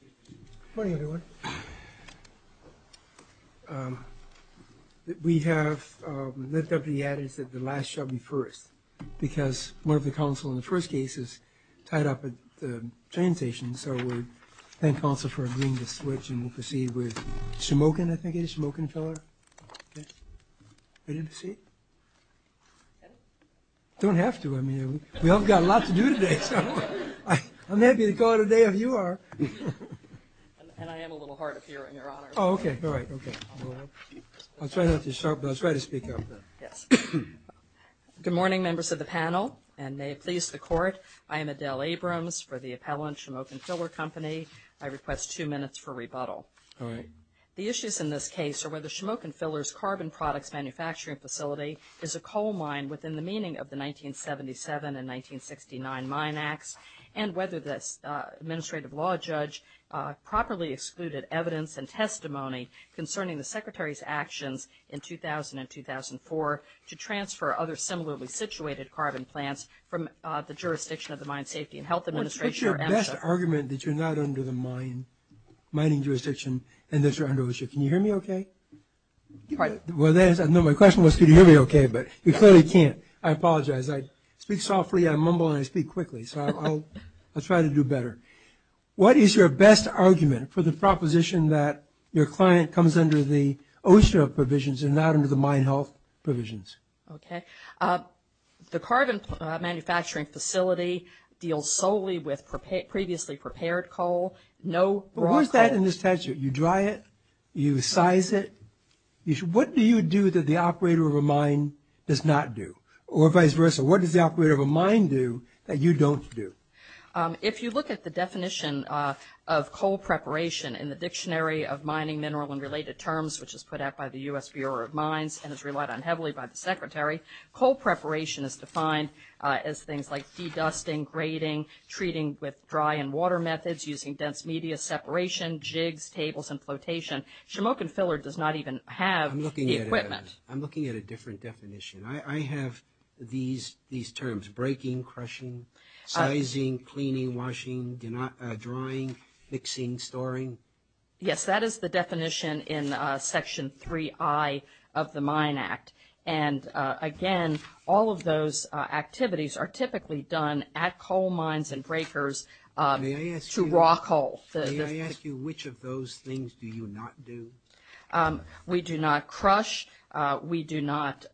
Good morning, everyone. We have lived up to the adage that the last shall be first, because one of the counsel in the first case is tied up at the train station, so we thank counsel for agreeing to switch, and we'll proceed with Shemokin, I think it is, Shemokin Filler. Ready to proceed? Don't have to, I mean, we all have got a lot to do today, so. I'm happy to call it a day if you are. And I am a little hard of hearing, Your Honor. Oh, okay, all right, okay. I'll try not to start, but I'll try to speak up. Yes. Good morning, members of the panel, and may it please the Court, I am Adele Abrams for the appellant, Shemokin Filler Company. I request two minutes for rebuttal. All right. The issues in this case are whether Shemokin Filler's carbon products manufacturing facility is a coal mine within the meaning of the 1977 and 1969 Mine Acts, and whether the administrative law judge properly excluded evidence and testimony concerning the Secretary's actions in 2000 and 2004 to transfer other similarly situated carbon plants from the jurisdiction of the Mine Safety and Health Administration or MSHA. What's your best argument that you're not under the mining jurisdiction and that you're under OSHA? Can you hear me okay? Pardon? Well, my question was can you hear me okay, but you clearly can't. I apologize. I speak softly, I mumble, and I speak quickly, so I'll try to do better. What is your best argument for the proposition that your client comes under the OSHA provisions and not under the mine health provisions? Okay. The carbon manufacturing facility deals solely with previously prepared coal, no raw coal. What's that in this statute? You dry it? You size it? What do you do that the operator of a mine does not do? Or vice versa, what does the operator of a mine do that you don't do? If you look at the definition of coal preparation in the Dictionary of Mining, Mineral, and Related Terms, which is put out by the U.S. Bureau of Mines and is relied on heavily by the Secretary, coal preparation is defined as things like de-dusting, grading, treating with dry and water methods, using dense media separation, jigs, tables, and flotation. Shamokin Filler does not even have the equipment. I'm looking at a different definition. I have these terms, breaking, crushing, sizing, cleaning, washing, drying, mixing, storing. Yes, that is the definition in Section 3I of the Mine Act. And again, all of those activities are typically done at coal mines and breakers to raw coal. May I ask you which of those things do you not do? We do not crush. We do not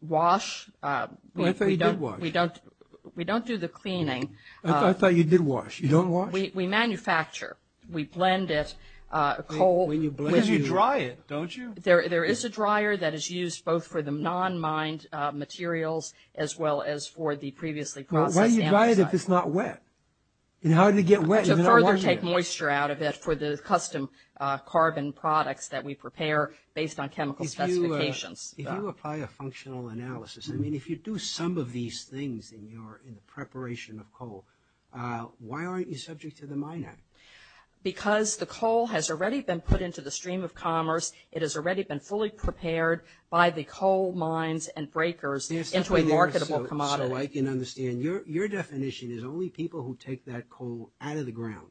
wash. I thought you did wash. We don't do the cleaning. I thought you did wash. You don't wash? We manufacture. We blend it, coal. But you dry it, don't you? There is a dryer that is used both for the non-mined materials as well as for the previously processed. Why do you dry it if it's not wet? To further take moisture out of it for the custom carbon products that we prepare based on chemical specifications. If you apply a functional analysis, I mean, if you do some of these things in the preparation of coal, why aren't you subject to the Mine Act? Because the coal has already been put into the stream of commerce. It has already been fully prepared by the coal mines and breakers into a marketable commodity. So I can understand. Your definition is only people who take that coal out of the ground,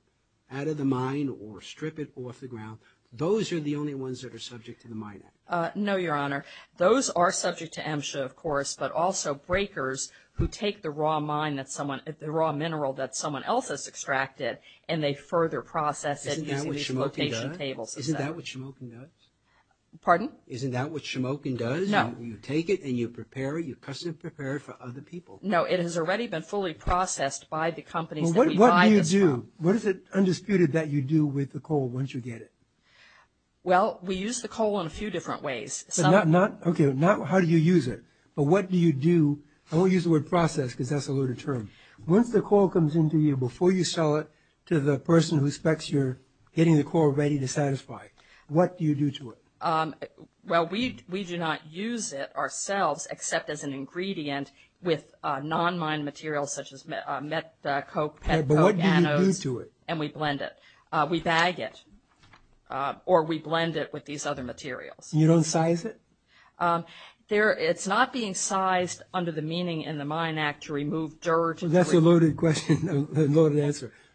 out of the mine, or strip it off the ground, those are the only ones that are subject to the Mine Act. No, Your Honor. Those are subject to MSHA, of course, but also breakers who take the raw mineral that someone else has extracted and they further process it using location tables. Isn't that what Schmoking does? Pardon? Isn't that what Schmoking does? No. You take it and you prepare it, you custom prepare it for other people. No, it has already been fully processed by the companies that we buy this from. What do you do? What is it, undisputed, that you do with the coal once you get it? Well, we use the coal in a few different ways. Okay, not how do you use it, but what do you do? I won't use the word process because that's a loaded term. Once the coal comes into you, before you sell it to the person who expects you're getting the coal ready to satisfy, what do you do to it? Well, we do not use it ourselves except as an ingredient with non-mine materials such as metcope, metcode anodes. But what do you do to it? And we blend it. We bag it or we blend it with these other materials. You don't size it? It's not being sized under the meaning in the Mine Act to remove dirt.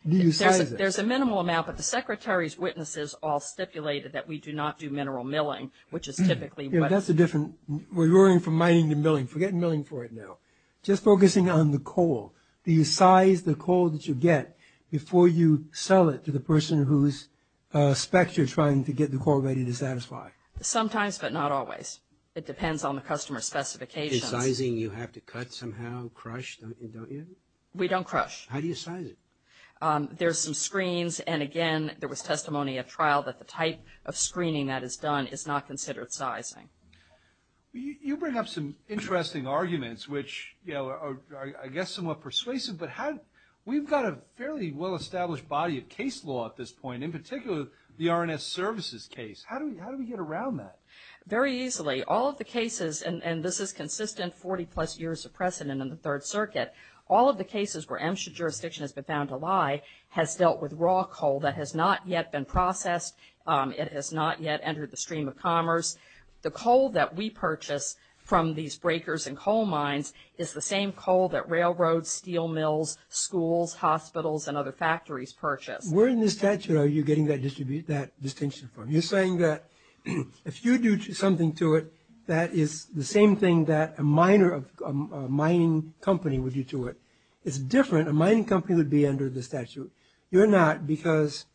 Do you size it? There's a minimal amount, but the Secretary's witnesses all stipulated that we do not do mineral milling, which is typically what – Yeah, that's a different – we're going from mining to milling. Forget milling for it now. Just focusing on the coal. Do you size the coal that you get before you sell it to the person who expects you're trying to get the coal ready to satisfy? Sometimes, but not always. It depends on the customer specifications. Is sizing you have to cut somehow, crush, don't you? We don't crush. How do you size it? There's some screens. And, again, there was testimony at trial that the type of screening that is done is not considered sizing. You bring up some interesting arguments, which are, I guess, somewhat persuasive. But we've got a fairly well-established body of case law at this point, in particular the R&S Services case. How do we get around that? Very easily. All of the cases – and this is consistent 40-plus years of precedent in the Third Circuit – all of the cases where MSHA jurisdiction has been found to lie has dealt with raw coal that has not yet been processed. It has not yet entered the stream of commerce. The coal that we purchase from these breakers and coal mines is the same coal that railroads, steel mills, schools, hospitals, and other factories purchase. Where in the statute are you getting that distinction from? You're saying that if you do something to it, that is the same thing that a mining company would do to it. It's different. A mining company would be under the statute. You're not because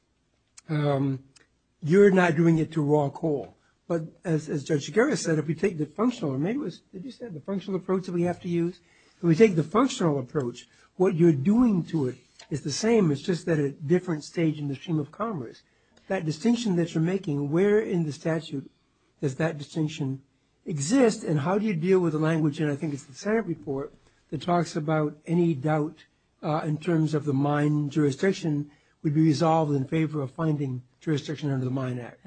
you're not doing it to raw coal. But as Judge Shigeru said, if we take the functional – or maybe it was – did you say the functional approach that we have to use? If we take the functional approach, what you're doing to it is the same, it's just at a different stage in the stream of commerce. That distinction that you're making, where in the statute does that distinction exist, and how do you deal with the language – and I think it's the Senate report that talks about any doubt in terms of the mine jurisdiction would be resolved in favor of finding jurisdiction under the Mine Act.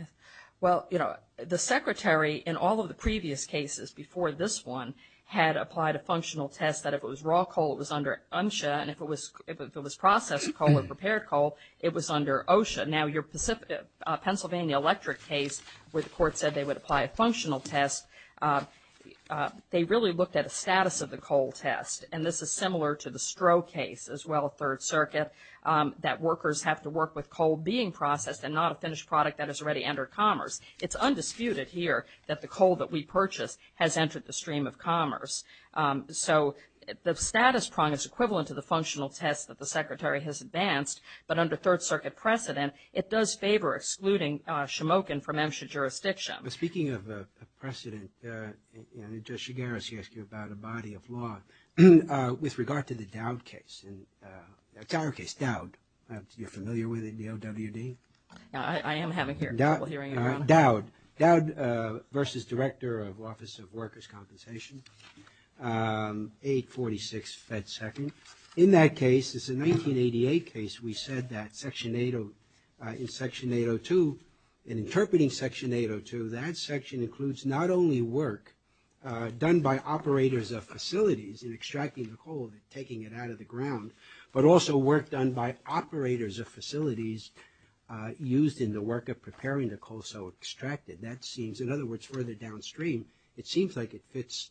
Well, you know, the Secretary in all of the previous cases before this one had applied a functional test that if it was raw coal, it was under UNSHA, and if it was processed coal or prepared coal, it was under OSHA. Now, your Pennsylvania electric case where the court said they would apply a functional test, they really looked at the status of the coal test, and this is similar to the Stroh case as well, Third Circuit, that workers have to work with coal being processed and not a finished product that has already entered commerce. It's undisputed here that the coal that we purchase has entered the stream of commerce. So the status prong is equivalent to the functional test that the Secretary has advanced, but under Third Circuit precedent, it does favor excluding Shamokin from MSHA jurisdiction. Speaking of precedent, Judge Shigaris asked you about a body of law. With regard to the Dowd case, you're familiar with it, the OWD? I am having people hearing it around. Dowd versus Director of Office of Workers' Compensation, 846 Fed Second. In that case, it's a 1988 case, we said that Section 802, in interpreting Section 802, that section includes not only work done by operators of facilities in extracting the coal and taking it out of the ground, but also work done by operators of facilities used in the work of preparing the coal so extracted. That seems, in other words, further downstream, it seems like it fits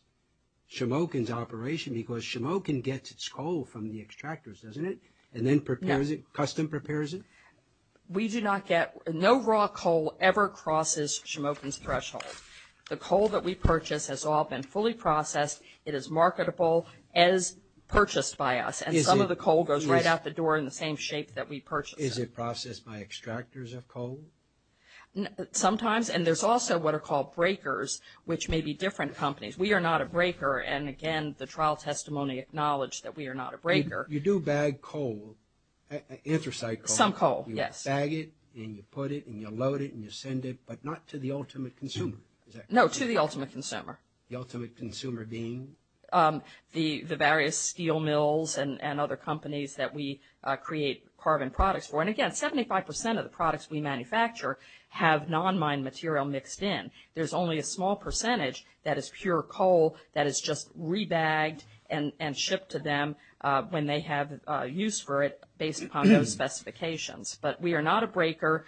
Shamokin's operation because Shamokin gets its coal from the extractors, doesn't it, and then prepares it, custom prepares it? We do not get – no raw coal ever crosses Shamokin's threshold. The coal that we purchase has all been fully processed. It is marketable as purchased by us, and some of the coal goes right out the door in the same shape that we purchased it. Is it processed by extractors of coal? Sometimes, and there's also what are called breakers, which may be different companies. We are not a breaker, and again, the trial testimony acknowledged that we are not a breaker. You do bag coal, inter-site coal. Some coal, yes. You bag it, and you put it, and you load it, and you send it, but not to the ultimate consumer, is that correct? No, to the ultimate consumer. The ultimate consumer being? The various steel mills and other companies that we create carbon products for. And again, 75 percent of the products we manufacture have non-mine material mixed in. There's only a small percentage that is pure coal that is just re-bagged and shipped to them when they have use for it based upon those specifications. But we are not a breaker.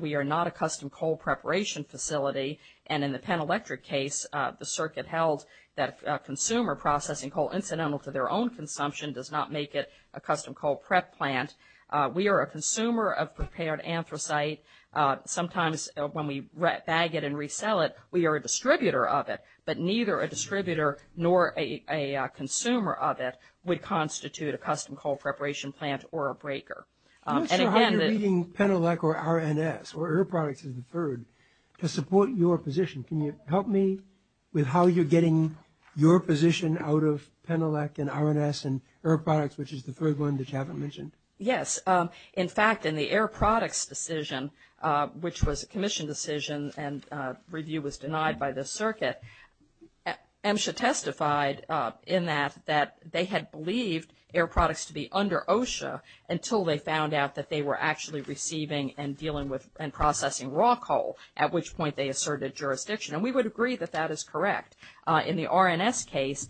We are not a custom coal preparation facility. And in the Penn Electric case, the circuit held that consumer processing coal incidental to their own consumption does not make it a custom coal prep plant. We are a consumer of prepared anthracite. Sometimes when we bag it and resell it, we are a distributor of it, but neither a distributor nor a consumer of it would constitute a custom coal preparation plant or a breaker. I'm not sure how you're reading PennElec or RNS or Air Products as the third to support your position. Can you help me with how you're getting your position out of PennElec and RNS and Air Products, which is the third one that you haven't mentioned? Yes. In fact, in the Air Products decision, which was a commission decision and review was denied by the circuit, MSHA testified in that they had believed Air Products to be under OSHA until they found out that they were actually receiving and dealing with and processing raw coal, at which point they asserted jurisdiction. And we would agree that that is correct. In the RNS case,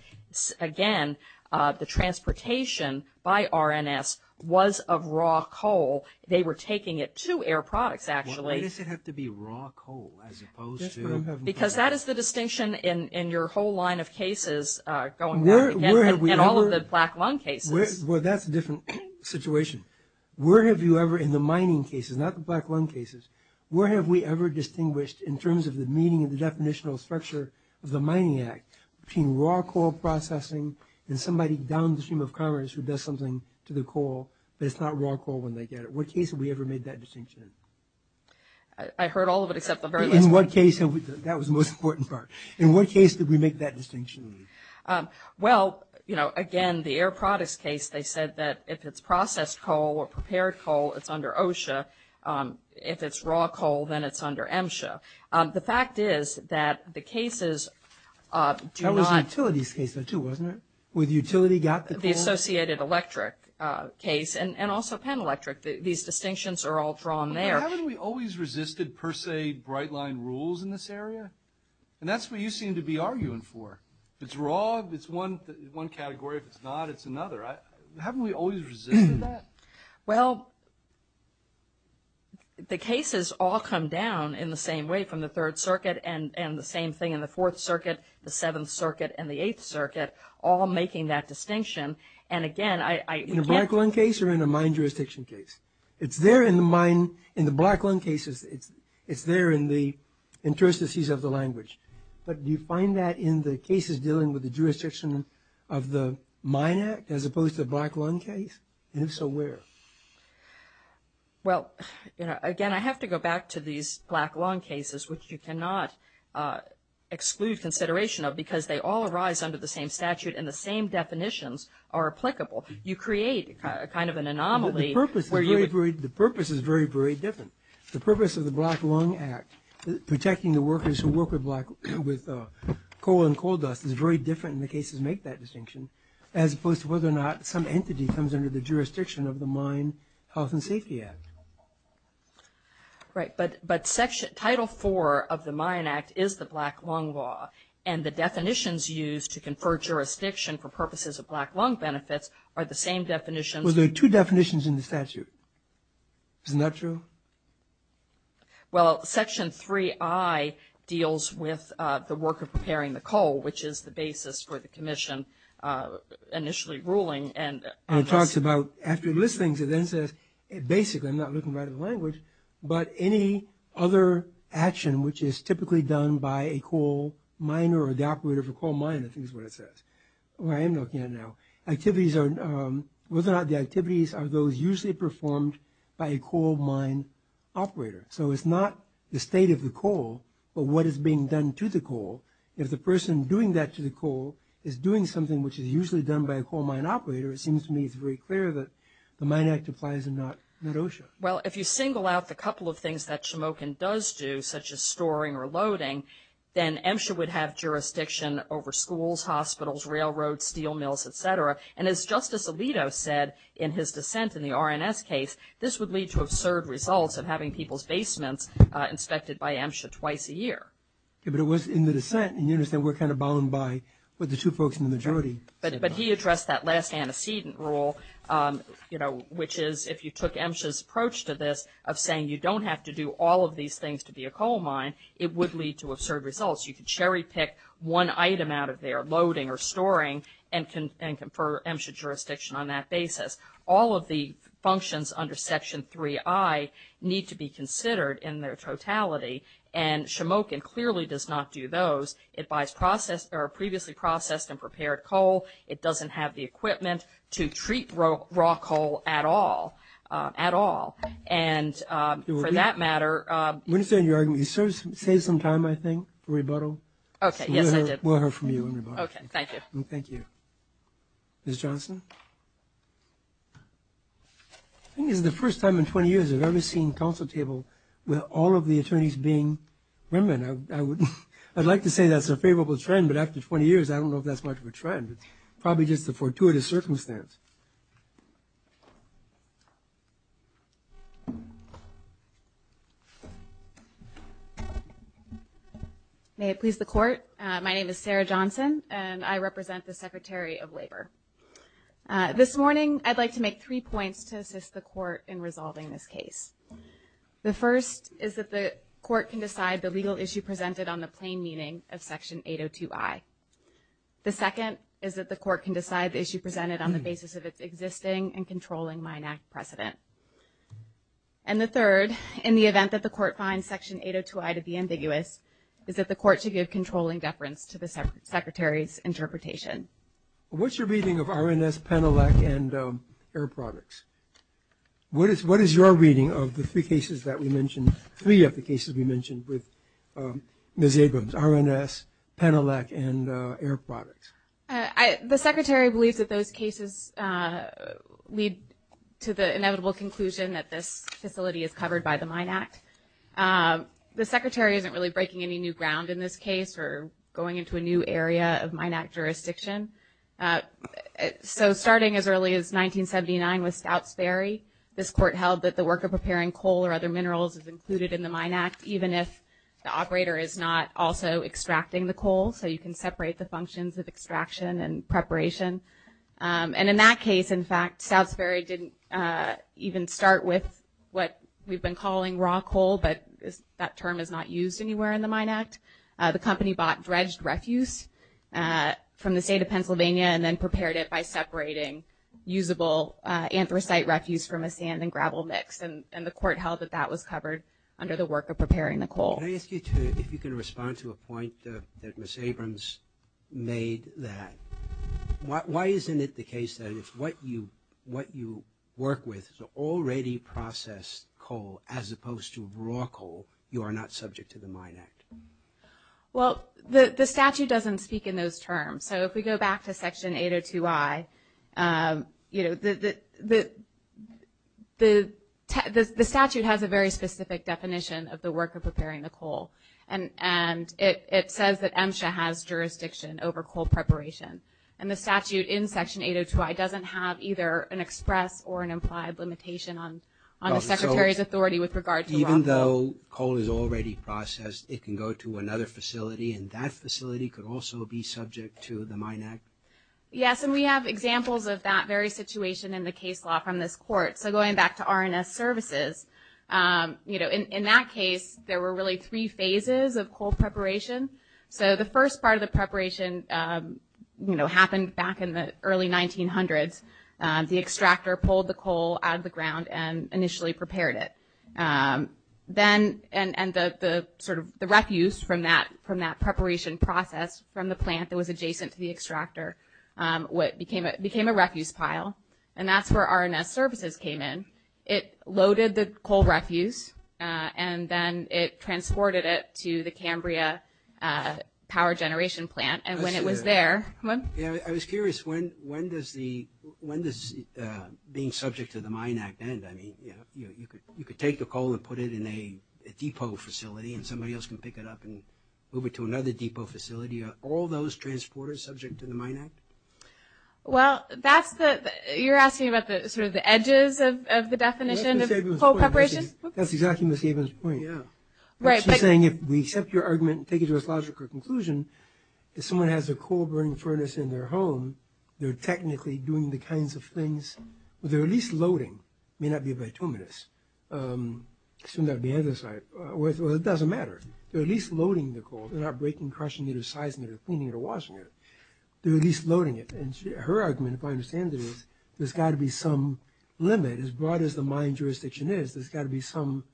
again, the transportation by RNS was of raw coal. They were taking it to Air Products, actually. Why does it have to be raw coal as opposed to? Because that is the distinction in your whole line of cases going back again and all of the black lung cases. Well, that's a different situation. Where have you ever in the mining cases, not the black lung cases, where have we ever distinguished in terms of the meaning and the definitional structure of the Mining Act between raw coal processing and somebody downstream of commerce who does something to the coal, but it's not raw coal when they get it? What case have we ever made that distinction in? I heard all of it except the very last one. In what case have we? That was the most important part. In what case did we make that distinction? Well, you know, again, the Air Products case, they said that if it's processed coal or prepared coal, it's under OSHA. If it's raw coal, then it's under MSHA. The fact is that the cases do not. That was the Utilities case, though, too, wasn't it? Where the utility got the coal? The Associated Electric case and also Penn Electric. These distinctions are all drawn there. Haven't we always resisted per se bright line rules in this area? And that's what you seem to be arguing for. If it's raw, it's one category. If it's not, it's another. Haven't we always resisted that? Well, the cases all come down in the same way from the Third Circuit and the same thing in the Fourth Circuit, the Seventh Circuit, and the Eighth Circuit, all making that distinction. And, again, I can't. In the Black Lung case or in a mine jurisdiction case? It's there in the mine. In the Black Lung cases, it's there in the interstices of the language. But do you find that in the cases dealing with the jurisdiction of the Mine Act as opposed to the Black Lung case? And if so, where? Well, again, I have to go back to these Black Lung cases, which you cannot exclude consideration of because they all arise under the same statute and the same definitions are applicable. You create kind of an anomaly where you would… The purpose is very, very different. The purpose of the Black Lung Act, protecting the workers who work with coal and coal dust, is very different in the cases that make that distinction as opposed to whether or not some entity comes under the jurisdiction of the Mine Health and Safety Act. Right. But Title IV of the Mine Act is the Black Lung law, and the definitions used to confer jurisdiction for purposes of black lung benefits are the same definitions. Well, there are two definitions in the statute. Isn't that true? Well, Section 3I deals with the work of preparing the coal, which is the basis for the commission initially ruling. And it talks about, after listings, it then says, basically, I'm not looking right at the language, but any other action which is typically done by a coal miner or the operator of a coal mine, I think is what it says, or I am looking at now, whether or not the activities are those usually performed by a coal mine operator. So it's not the state of the coal, but what is being done to the coal. If the person doing that to the coal is doing something which is usually done by a coal mine operator, it seems to me it's very clear that the Mine Act applies and not OSHA. Well, if you single out the couple of things that Shemokin does do, such as storing or loading, then MSHA would have jurisdiction over schools, hospitals, railroads, steel mills, et cetera. And as Justice Alito said in his dissent in the RNS case, this would lead to absurd results of having people's basements inspected by MSHA twice a year. But it was in the dissent, and you understand we're kind of bound by what the two folks in the majority said. But he addressed that last antecedent rule, you know, which is if you took MSHA's approach to this of saying you don't have to do all of these things to be a coal mine, it would lead to absurd results. You could cherry pick one item out of there, loading or storing, and confer MSHA jurisdiction on that basis. All of the functions under Section 3I need to be considered in their totality, and Shemokin clearly does not do those. It buys previously processed and prepared coal. It doesn't have the equipment to treat raw coal at all, at all. And for that matter ‑‑ I understand your argument. You saved some time, I think, for rebuttal. Okay, yes, I did. We'll hear from you in rebuttal. Okay, thank you. Thank you. Ms. Johnson? I think this is the first time in 20 years I've ever seen council table with all of the attorneys being women. I would like to say that's a favorable trend, but after 20 years, I don't know if that's much of a trend. It's probably just a fortuitous circumstance. May it please the Court, my name is Sarah Johnson, and I represent the Secretary of Labor. This morning, I'd like to make three points to assist the Court in resolving this case. The first is that the Court can decide the legal issue presented on the plain meaning of Section 802I. The second is that the Court can decide the issue presented on the basis of its existing and controlling Mine Act precedent. And the third, in the event that the Court finds Section 802I to be ambiguous, is that the Court should give controlling deference to the Secretary's interpretation. What's your reading of RNS, Penelac, and Air Products? What is your reading of the three cases that we mentioned, three of the cases we mentioned with Ms. Abrams, RNS, Penelac, and Air Products? The Secretary believes that those cases lead to the inevitable conclusion that this facility is covered by the Mine Act. The Secretary isn't really breaking any new ground in this case or going into a new area of Mine Act jurisdiction. So starting as early as 1979 with Stout's Ferry, this Court held that the work of preparing coal or other minerals is included in the Mine Act, even if the operator is not also extracting the coal. So you can separate the functions of extraction and preparation. And in that case, in fact, Stout's Ferry didn't even start with what we've been calling raw coal, but that term is not used anywhere in the Mine Act. The company bought dredged refuse from the state of Pennsylvania and then prepared it by separating usable anthracite refuse from a sand and gravel mix. And the Court held that that was covered under the work of preparing the coal. Can I ask you to, if you can respond to a point that Ms. Abrams made, that why isn't it the case that if what you work with is already processed coal as opposed to raw coal, you are not subject to the Mine Act? Well, the statute doesn't speak in those terms. So if we go back to Section 802I, you know, the statute has a very specific definition of the work of preparing the coal. And it says that MSHA has jurisdiction over coal preparation. And the statute in Section 802I doesn't have either an express or an implied limitation on the Secretary's authority with regard to raw coal. So even though coal is already processed, it can go to another facility, and that facility could also be subject to the Mine Act? Yes, and we have examples of that very situation in the case law from this Court. So going back to R&S Services, you know, in that case, there were really three phases of coal preparation. So the first part of the preparation, you know, happened back in the early 1900s. The extractor pulled the coal out of the ground and initially prepared it. Then, and the sort of the refuse from that preparation process from the plant that was adjacent to the extractor became a refuse pile. And that's where R&S Services came in. It loaded the coal refuse, and then it transported it to the Cambria Power Generation Plant. I was curious, when does the, when does being subject to the Mine Act end? I mean, you know, you could take the coal and put it in a depot facility, and somebody else can pick it up and move it to another depot facility. Are all those transporters subject to the Mine Act? Well, that's the, you're asking about the sort of the edges of the definition of coal preparation? That's exactly Ms. Sabin's point. She's saying if we accept your argument and take it to its logical conclusion, if someone has a coal-burning furnace in their home, they're technically doing the kinds of things, they're at least loading, may not be bituminous, assume that would be anthracite, well, it doesn't matter. They're at least loading the coal. They're not breaking, crushing it, or sizing it, or cleaning it, or washing it. They're at least loading it. And her argument, if I understand it, is there's got to be some limit. As broad as the mine jurisdiction is, there's got to be some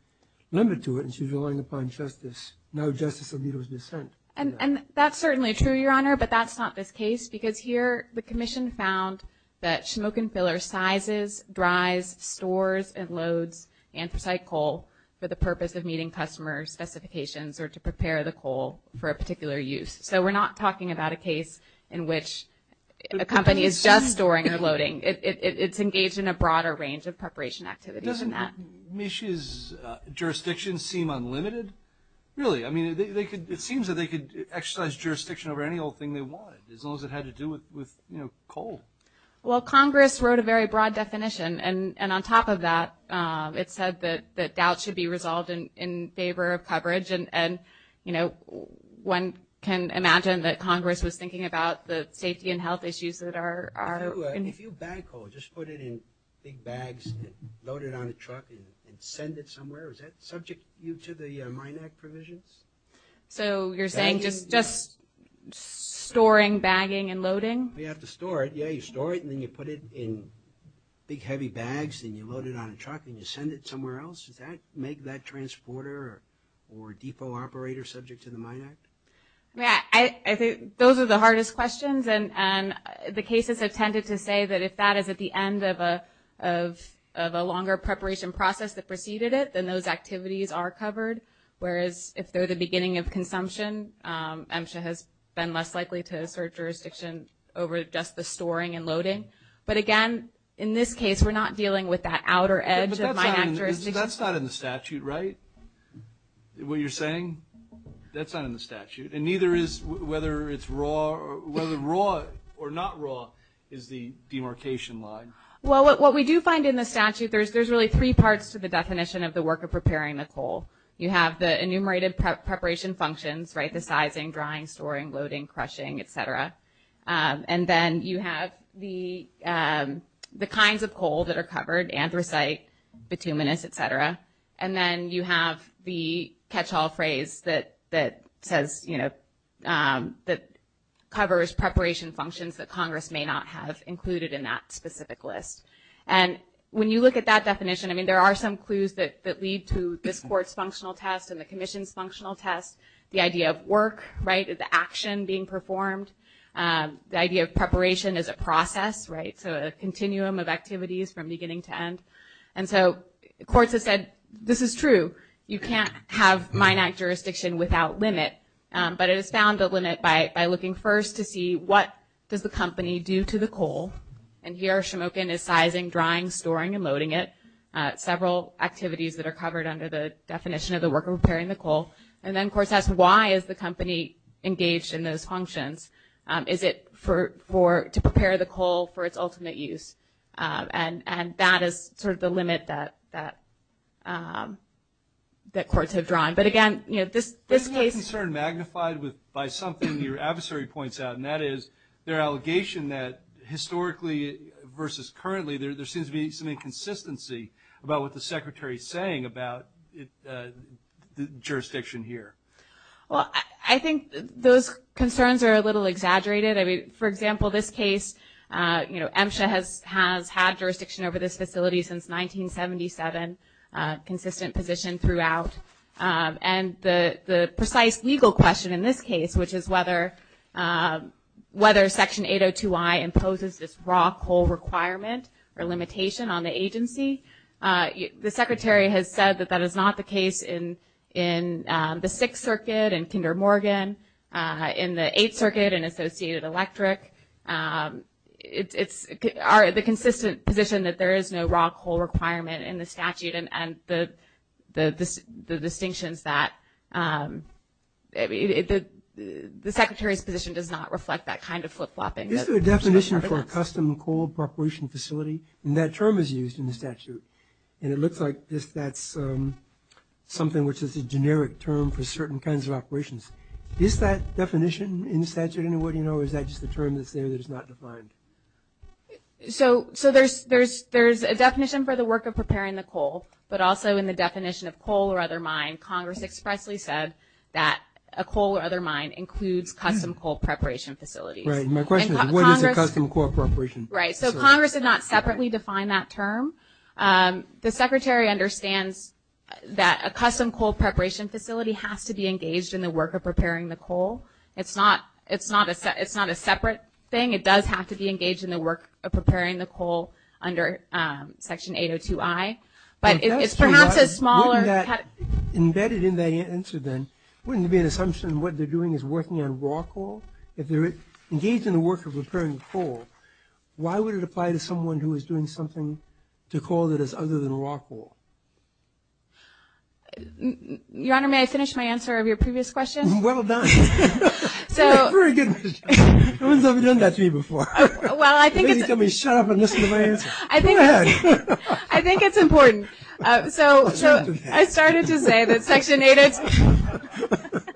limit to it. And she's relying upon justice. No justice will be to its dissent. And that's certainly true, Your Honor, but that's not this case, because here the commission found that Schmokenfiller sizes, dries, stores, and loads anthracite coal for the purpose of meeting customer specifications or to prepare the coal for a particular use. So we're not talking about a case in which a company is just storing or loading. It's engaged in a broader range of preparation activities than that. Doesn't Misch's jurisdiction seem unlimited? Really? I mean, it seems that they could exercise jurisdiction over any old thing they wanted, as long as it had to do with coal. Well, Congress wrote a very broad definition, and on top of that, it said that doubt should be resolved in favor of coverage. And, you know, one can imagine that Congress was thinking about the safety and health issues that are – If you bag coal, just put it in big bags and load it on a truck and send it somewhere, is that subject you to the Mine Act provisions? So you're saying just storing, bagging, and loading? You have to store it. Yeah, you store it and then you put it in big heavy bags and you load it on a truck and you send it somewhere else? Does that make that transporter or depot operator subject to the Mine Act? I think those are the hardest questions, and the cases have tended to say that if that is at the end of a longer preparation process that preceded it, then those activities are covered, whereas if they're the beginning of consumption, MSHA has been less likely to assert jurisdiction over just the storing and loading. But, again, in this case, we're not dealing with that outer edge of Mine Act jurisdiction. That's not in the statute, right? What you're saying? That's not in the statute. And neither is whether it's raw – whether raw or not raw is the demarcation line. Well, what we do find in the statute, there's really three parts to the definition of the work of preparing the coal. You have the enumerated preparation functions, right? The sizing, drying, storing, loading, crushing, et cetera. And then you have the kinds of coal that are covered, anthracite, bituminous, et cetera. And then you have the catch-all phrase that says, you know, that covers preparation functions that Congress may not have included in that specific list. And when you look at that definition, I mean, there are some clues that lead to this Court's functional test and the Commission's functional test, the idea of work, right, the action being performed, the idea of preparation as a process, right, so a continuum of activities from beginning to end. And so courts have said, this is true. You can't have Mine Act jurisdiction without limit. But it has found the limit by looking first to see what does the company do to the coal. And here, Shemokin is sizing, drying, storing, and loading it, several activities that are covered under the definition of the work of preparing the coal. And then courts ask, why is the company engaged in those functions? Is it for – to prepare the coal for its ultimate use? And that is sort of the limit that courts have drawn. But, again, you know, this case – Isn't that concern magnified by something your adversary points out, and that is their allegation that historically versus currently, there seems to be some inconsistency about what the Secretary is saying about jurisdiction here. Well, I think those concerns are a little exaggerated. I mean, for example, this case, you know, MSHA has had jurisdiction over this facility since 1977, consistent position throughout. And the precise legal question in this case, which is whether Section 802I imposes this raw coal requirement or limitation on the agency, the Secretary has said that that is not the case in the Sixth Circuit, in Kinder Morgan, in the Eighth Circuit and Associated Electric. It's – the consistent position that there is no raw coal requirement in the statute and the distinctions that – the Secretary's position does not reflect that kind of flip-flopping. Is there a definition for a custom coal preparation facility? And that term is used in the statute. And it looks like that's something which is a generic term for certain kinds of operations. Is that definition in the statute in any way, you know, or is that just a term that's there that is not defined? So there's a definition for the work of preparing the coal, but also in the definition of coal or other mine, Congress expressly said that a coal or other mine includes custom coal preparation facilities. Right. And my question is, what is a custom coal preparation facility? Right. So Congress did not separately define that term. The Secretary understands that a custom coal preparation facility has to be engaged in the work of preparing the coal. It's not a separate thing. It does have to be engaged in the work of preparing the coal under Section 802I. But it's perhaps a smaller – Embedded in that answer then, wouldn't it be an assumption what they're doing is working on raw coal? If they're engaged in the work of preparing the coal, why would it apply to someone who is doing something to coal that is other than raw coal? Your Honor, may I finish my answer of your previous question? Well done. So – Very good. No one's ever done that to me before. Well, I think it's – They tell me shut up and listen to my answer. I think it's – Go ahead. I think it's important. So I started to say that Section 802 –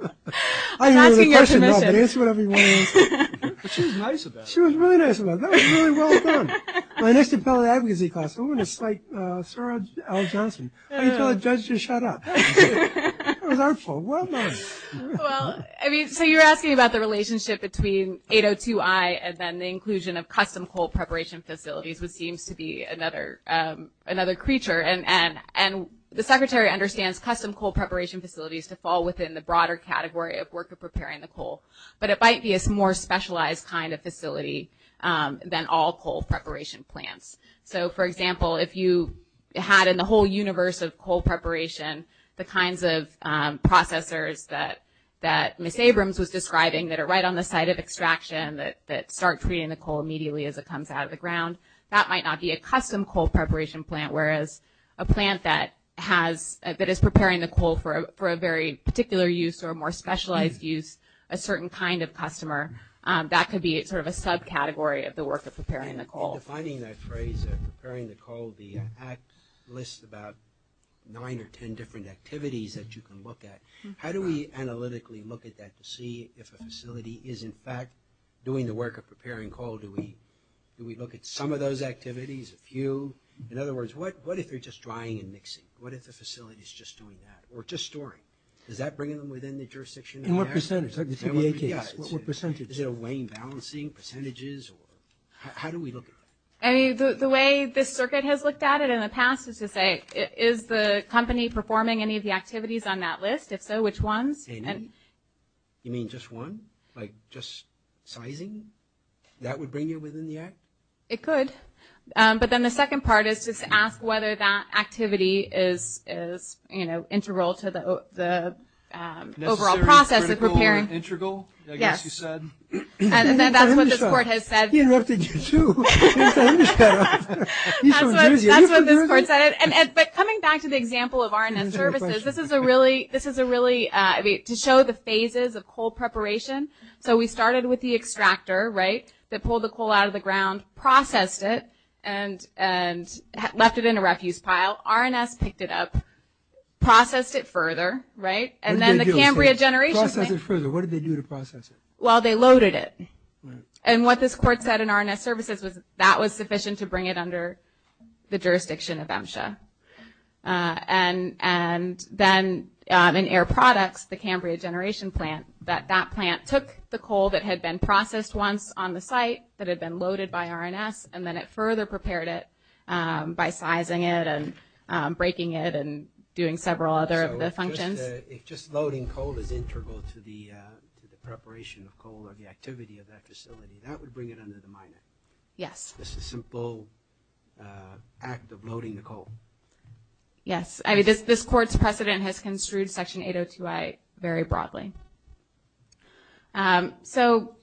I'm asking your permission. No, but answer whatever you want to answer. But she was nice about it. She was really nice about it. That was really well done. My next appellate advocacy class, we're going to cite Sarah L. Johnson. How do you tell a judge to shut up? That was artful. Well done. Well, I mean, so you're asking about the relationship between 802I and then the inclusion of custom coal preparation facilities, which seems to be another creature. And the Secretary understands custom coal preparation facilities to fall within the broader category of worker preparing the coal. But it might be a more specialized kind of facility than all coal preparation plants. So, for example, if you had in the whole universe of coal preparation the kinds of processors that Miss Abrams was describing that are right on the site of extraction that start treating the coal immediately as it comes out of the ground, that might not be a custom coal preparation plant, whereas a plant that has – that is preparing the coal for a very particular use or a more specialized use, a certain kind of customer, that could be sort of a subcategory of the work of preparing the coal. And defining that phrase, preparing the coal, the Act lists about nine or ten different activities that you can look at. How do we analytically look at that to see if a facility is, in fact, doing the work of preparing coal? Do we look at some of those activities, a few? In other words, what if they're just drying and mixing? What if the facility is just doing that or just storing? Is that bringing them within the jurisdiction of the Act? And what percentage? Is it a weighing, balancing, percentages? How do we look at that? I mean, the way this circuit has looked at it in the past is to say, is the company performing any of the activities on that list? If so, which ones? You mean just one, like just sizing? That would bring you within the Act? It could. But then the second part is just to ask whether that activity is, you know, integral to the overall process of preparing. Integral, I guess you said. And that's what this court has said. He interrupted you, too. That's what this court said. But coming back to the example of R&S services, this is a really, to show the phases of coal preparation. So we started with the extractor, right, that pulled the coal out of the ground, processed it, and left it in a refuse pile. R&S picked it up, processed it further, right? And then the Cambria generation thing. Process it further. What did they do to process it? Well, they loaded it. And what this court said in R&S services was that was sufficient to bring it under the jurisdiction of MSHA. And then in air products, the Cambria generation plant, that that plant took the coal that had been processed once on the site, that had been loaded by R&S, and then it further prepared it by sizing it and breaking it and doing several other of the functions. If just loading coal is integral to the preparation of coal or the activity of that facility, that would bring it under the minor. Yes. Just a simple act of loading the coal. Yes. This court's precedent has construed Section 802I very broadly. So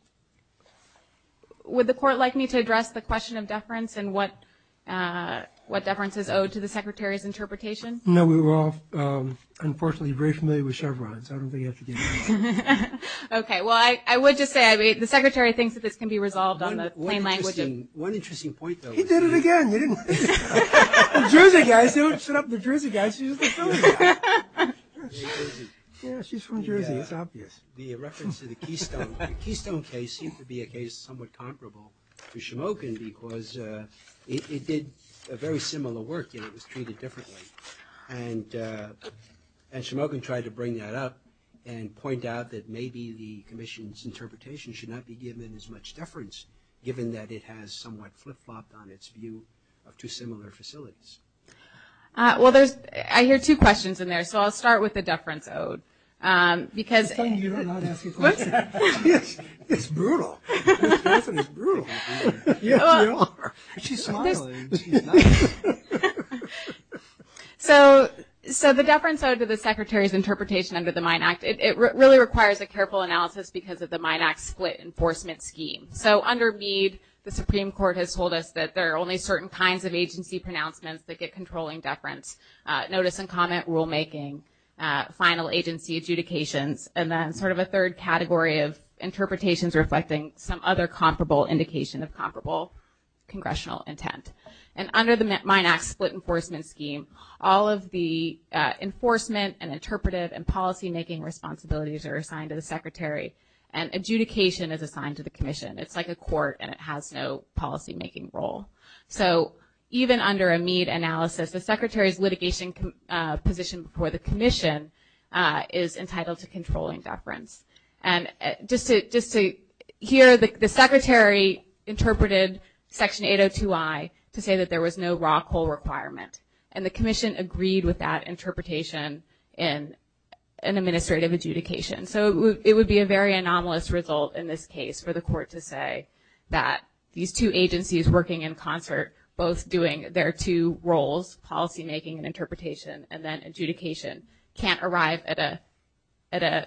would the court like me to address the question of deference and what deference is owed to the Secretary's interpretation? No, we were all, unfortunately, very familiar with Chevron, so I don't think you have to do that. Okay. Well, I would just say, I mean, the Secretary thinks that this can be resolved on the plain language. One interesting point, though. He did it again. He didn't. New Jersey guys, don't shut up New Jersey guys. She's a New Jersey guy. Yeah, she's from Jersey. It's obvious. The reference to the Keystone case seems to be a case somewhat comparable to Shemokin because it did very similar work, yet it was treated differently. And Shemokin tried to bring that up and point out that maybe the Commission's interpretation should not be given as much deference, given that it has somewhat flip-flopped on its view of two similar facilities. Well, I hear two questions in there, so I'll start with the deference owed. It's a good thing you're not asking questions. It's brutal. It definitely is brutal. Yes, you are. She's smiling. She's not. So the deference owed to the Secretary's interpretation under the Mine Act, it really requires a careful analysis because of the Mine Act split enforcement scheme. So under Meade, the Supreme Court has told us that there are only certain kinds of agency pronouncements that get controlling deference, notice and comment rulemaking, final agency adjudications, and then sort of a third category of interpretations reflecting some other comparable indication of comparable congressional intent. And under the Mine Act split enforcement scheme, all of the enforcement and interpretive and policymaking responsibilities are assigned to the Secretary, and adjudication is assigned to the Commission. It's like a court and it has no policymaking role. So even under a Meade analysis, the Secretary's litigation position before the Commission is entitled to controlling deference. And just to hear the Secretary interpreted Section 802I to say that there was no raw coal requirement, and the Commission agreed with that interpretation in an administrative adjudication. So it would be a very anomalous result in this case for the court to say that these two agencies working in concert, both doing their two roles, policymaking and interpretation, and then adjudication can't arrive at an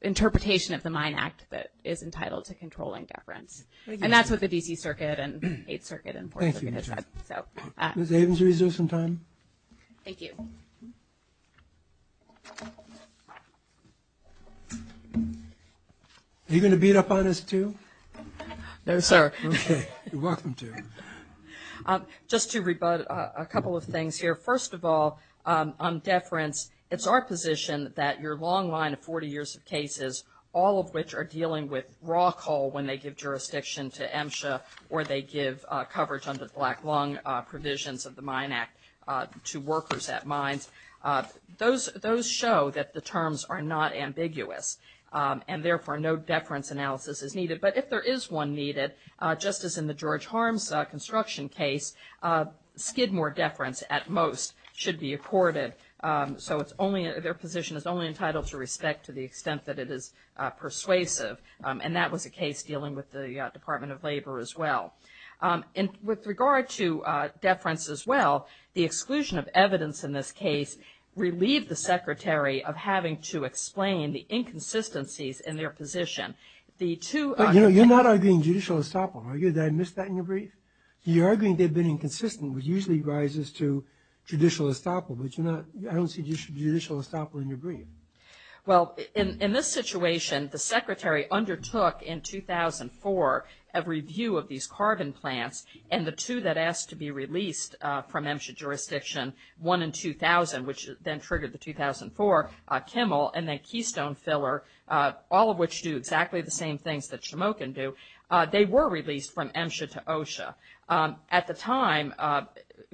interpretation of the Mine Act that is entitled to controlling deference. And that's what the D.C. Circuit and Eighth Circuit and Fourth Circuit have said. Ms. Avens, would you like to reserve some time? Thank you. Are you going to beat up on us too? No, sir. Okay, you're welcome to. Just to rebut a couple of things here. First of all, on deference, it's our position that your long line of 40 years of cases, all of which are dealing with raw coal when they give jurisdiction to MSHA or they give coverage under the Black Lung Provisions of the Mine Act to workers at mines, those show that the terms are not ambiguous, and therefore no deference analysis is needed. But if there is one needed, just as in the George Harms construction case, skid more deference at most should be accorded. So their position is only entitled to respect to the extent that it is persuasive, and that was the case dealing with the Department of Labor as well. And with regard to deference as well, the exclusion of evidence in this case relieved the Secretary of having to explain the inconsistencies in their position. You're not arguing judicial estoppel, are you? Did I miss that in your brief? You're arguing they've been inconsistent, which usually rises to judicial estoppel, but I don't see judicial estoppel in your brief. Well, in this situation, the Secretary undertook in 2004 a review of these carbon plants, and the two that asked to be released from MSHA jurisdiction, one in 2000, which then triggered the 2004 Kimmel, and then Keystone Filler, all of which do exactly the same things that Shamokin do, they were released from MSHA to OSHA. At the time,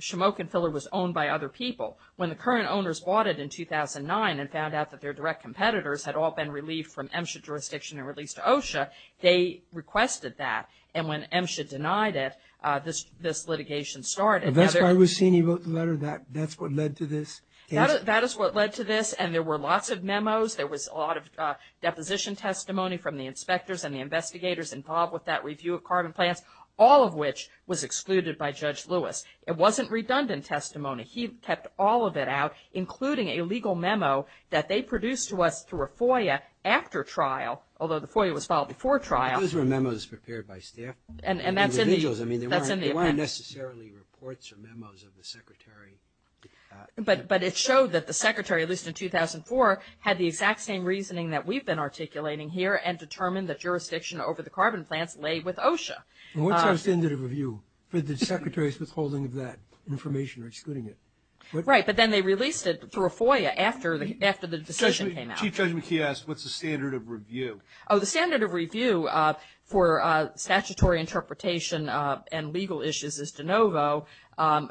Shamokin Filler was owned by other people. When the current owners bought it in 2009 and found out that their direct competitors had all been relieved from MSHA jurisdiction and released to OSHA, they requested that, and when MSHA denied it, this litigation started. That's why we've seen you wrote the letter that that's what led to this. That is what led to this, and there were lots of memos, there was a lot of deposition testimony from the inspectors and the investigators involved with that review of carbon plants, all of which was excluded by Judge Lewis. It wasn't redundant testimony. He kept all of it out, including a legal memo that they produced to us through a FOIA after trial, although the FOIA was filed before trial. Those were memos prepared by staff, individuals. I mean, they weren't necessarily reports or memos of the secretary. But it showed that the secretary, at least in 2004, had the exact same reasoning that we've been articulating here and determined that jurisdiction over the carbon plants lay with OSHA. And what's our standard of review for the secretary's withholding of that information or excluding it? Right. But then they released it through a FOIA after the decision came out. Chief Judge McKee asked what's the standard of review. Oh, the standard of review for statutory interpretation and legal issues is de novo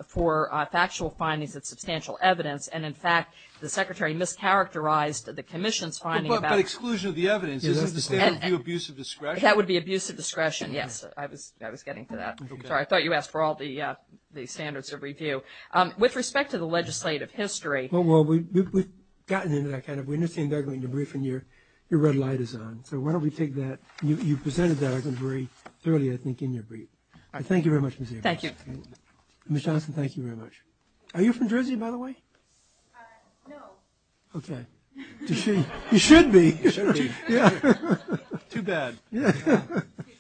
for factual findings and substantial evidence, and in fact, the secretary mischaracterized the commission's finding about But exclusion of the evidence. Isn't the standard review abuse of discretion? That would be abuse of discretion, yes. I was getting to that. Okay. Sorry, I thought you asked for all the standards of review. With respect to the legislative history. Well, we've gotten into that. We understand that you're briefing, your red light is on. So why don't we take that. You presented that very thoroughly, I think, in your brief. I thank you very much, Ms. Jacobs. Thank you. Ms. Johnson, thank you very much. Are you from Jersey, by the way? No. Okay. You should be. You should be. Yeah. Too bad. Yeah. Okay.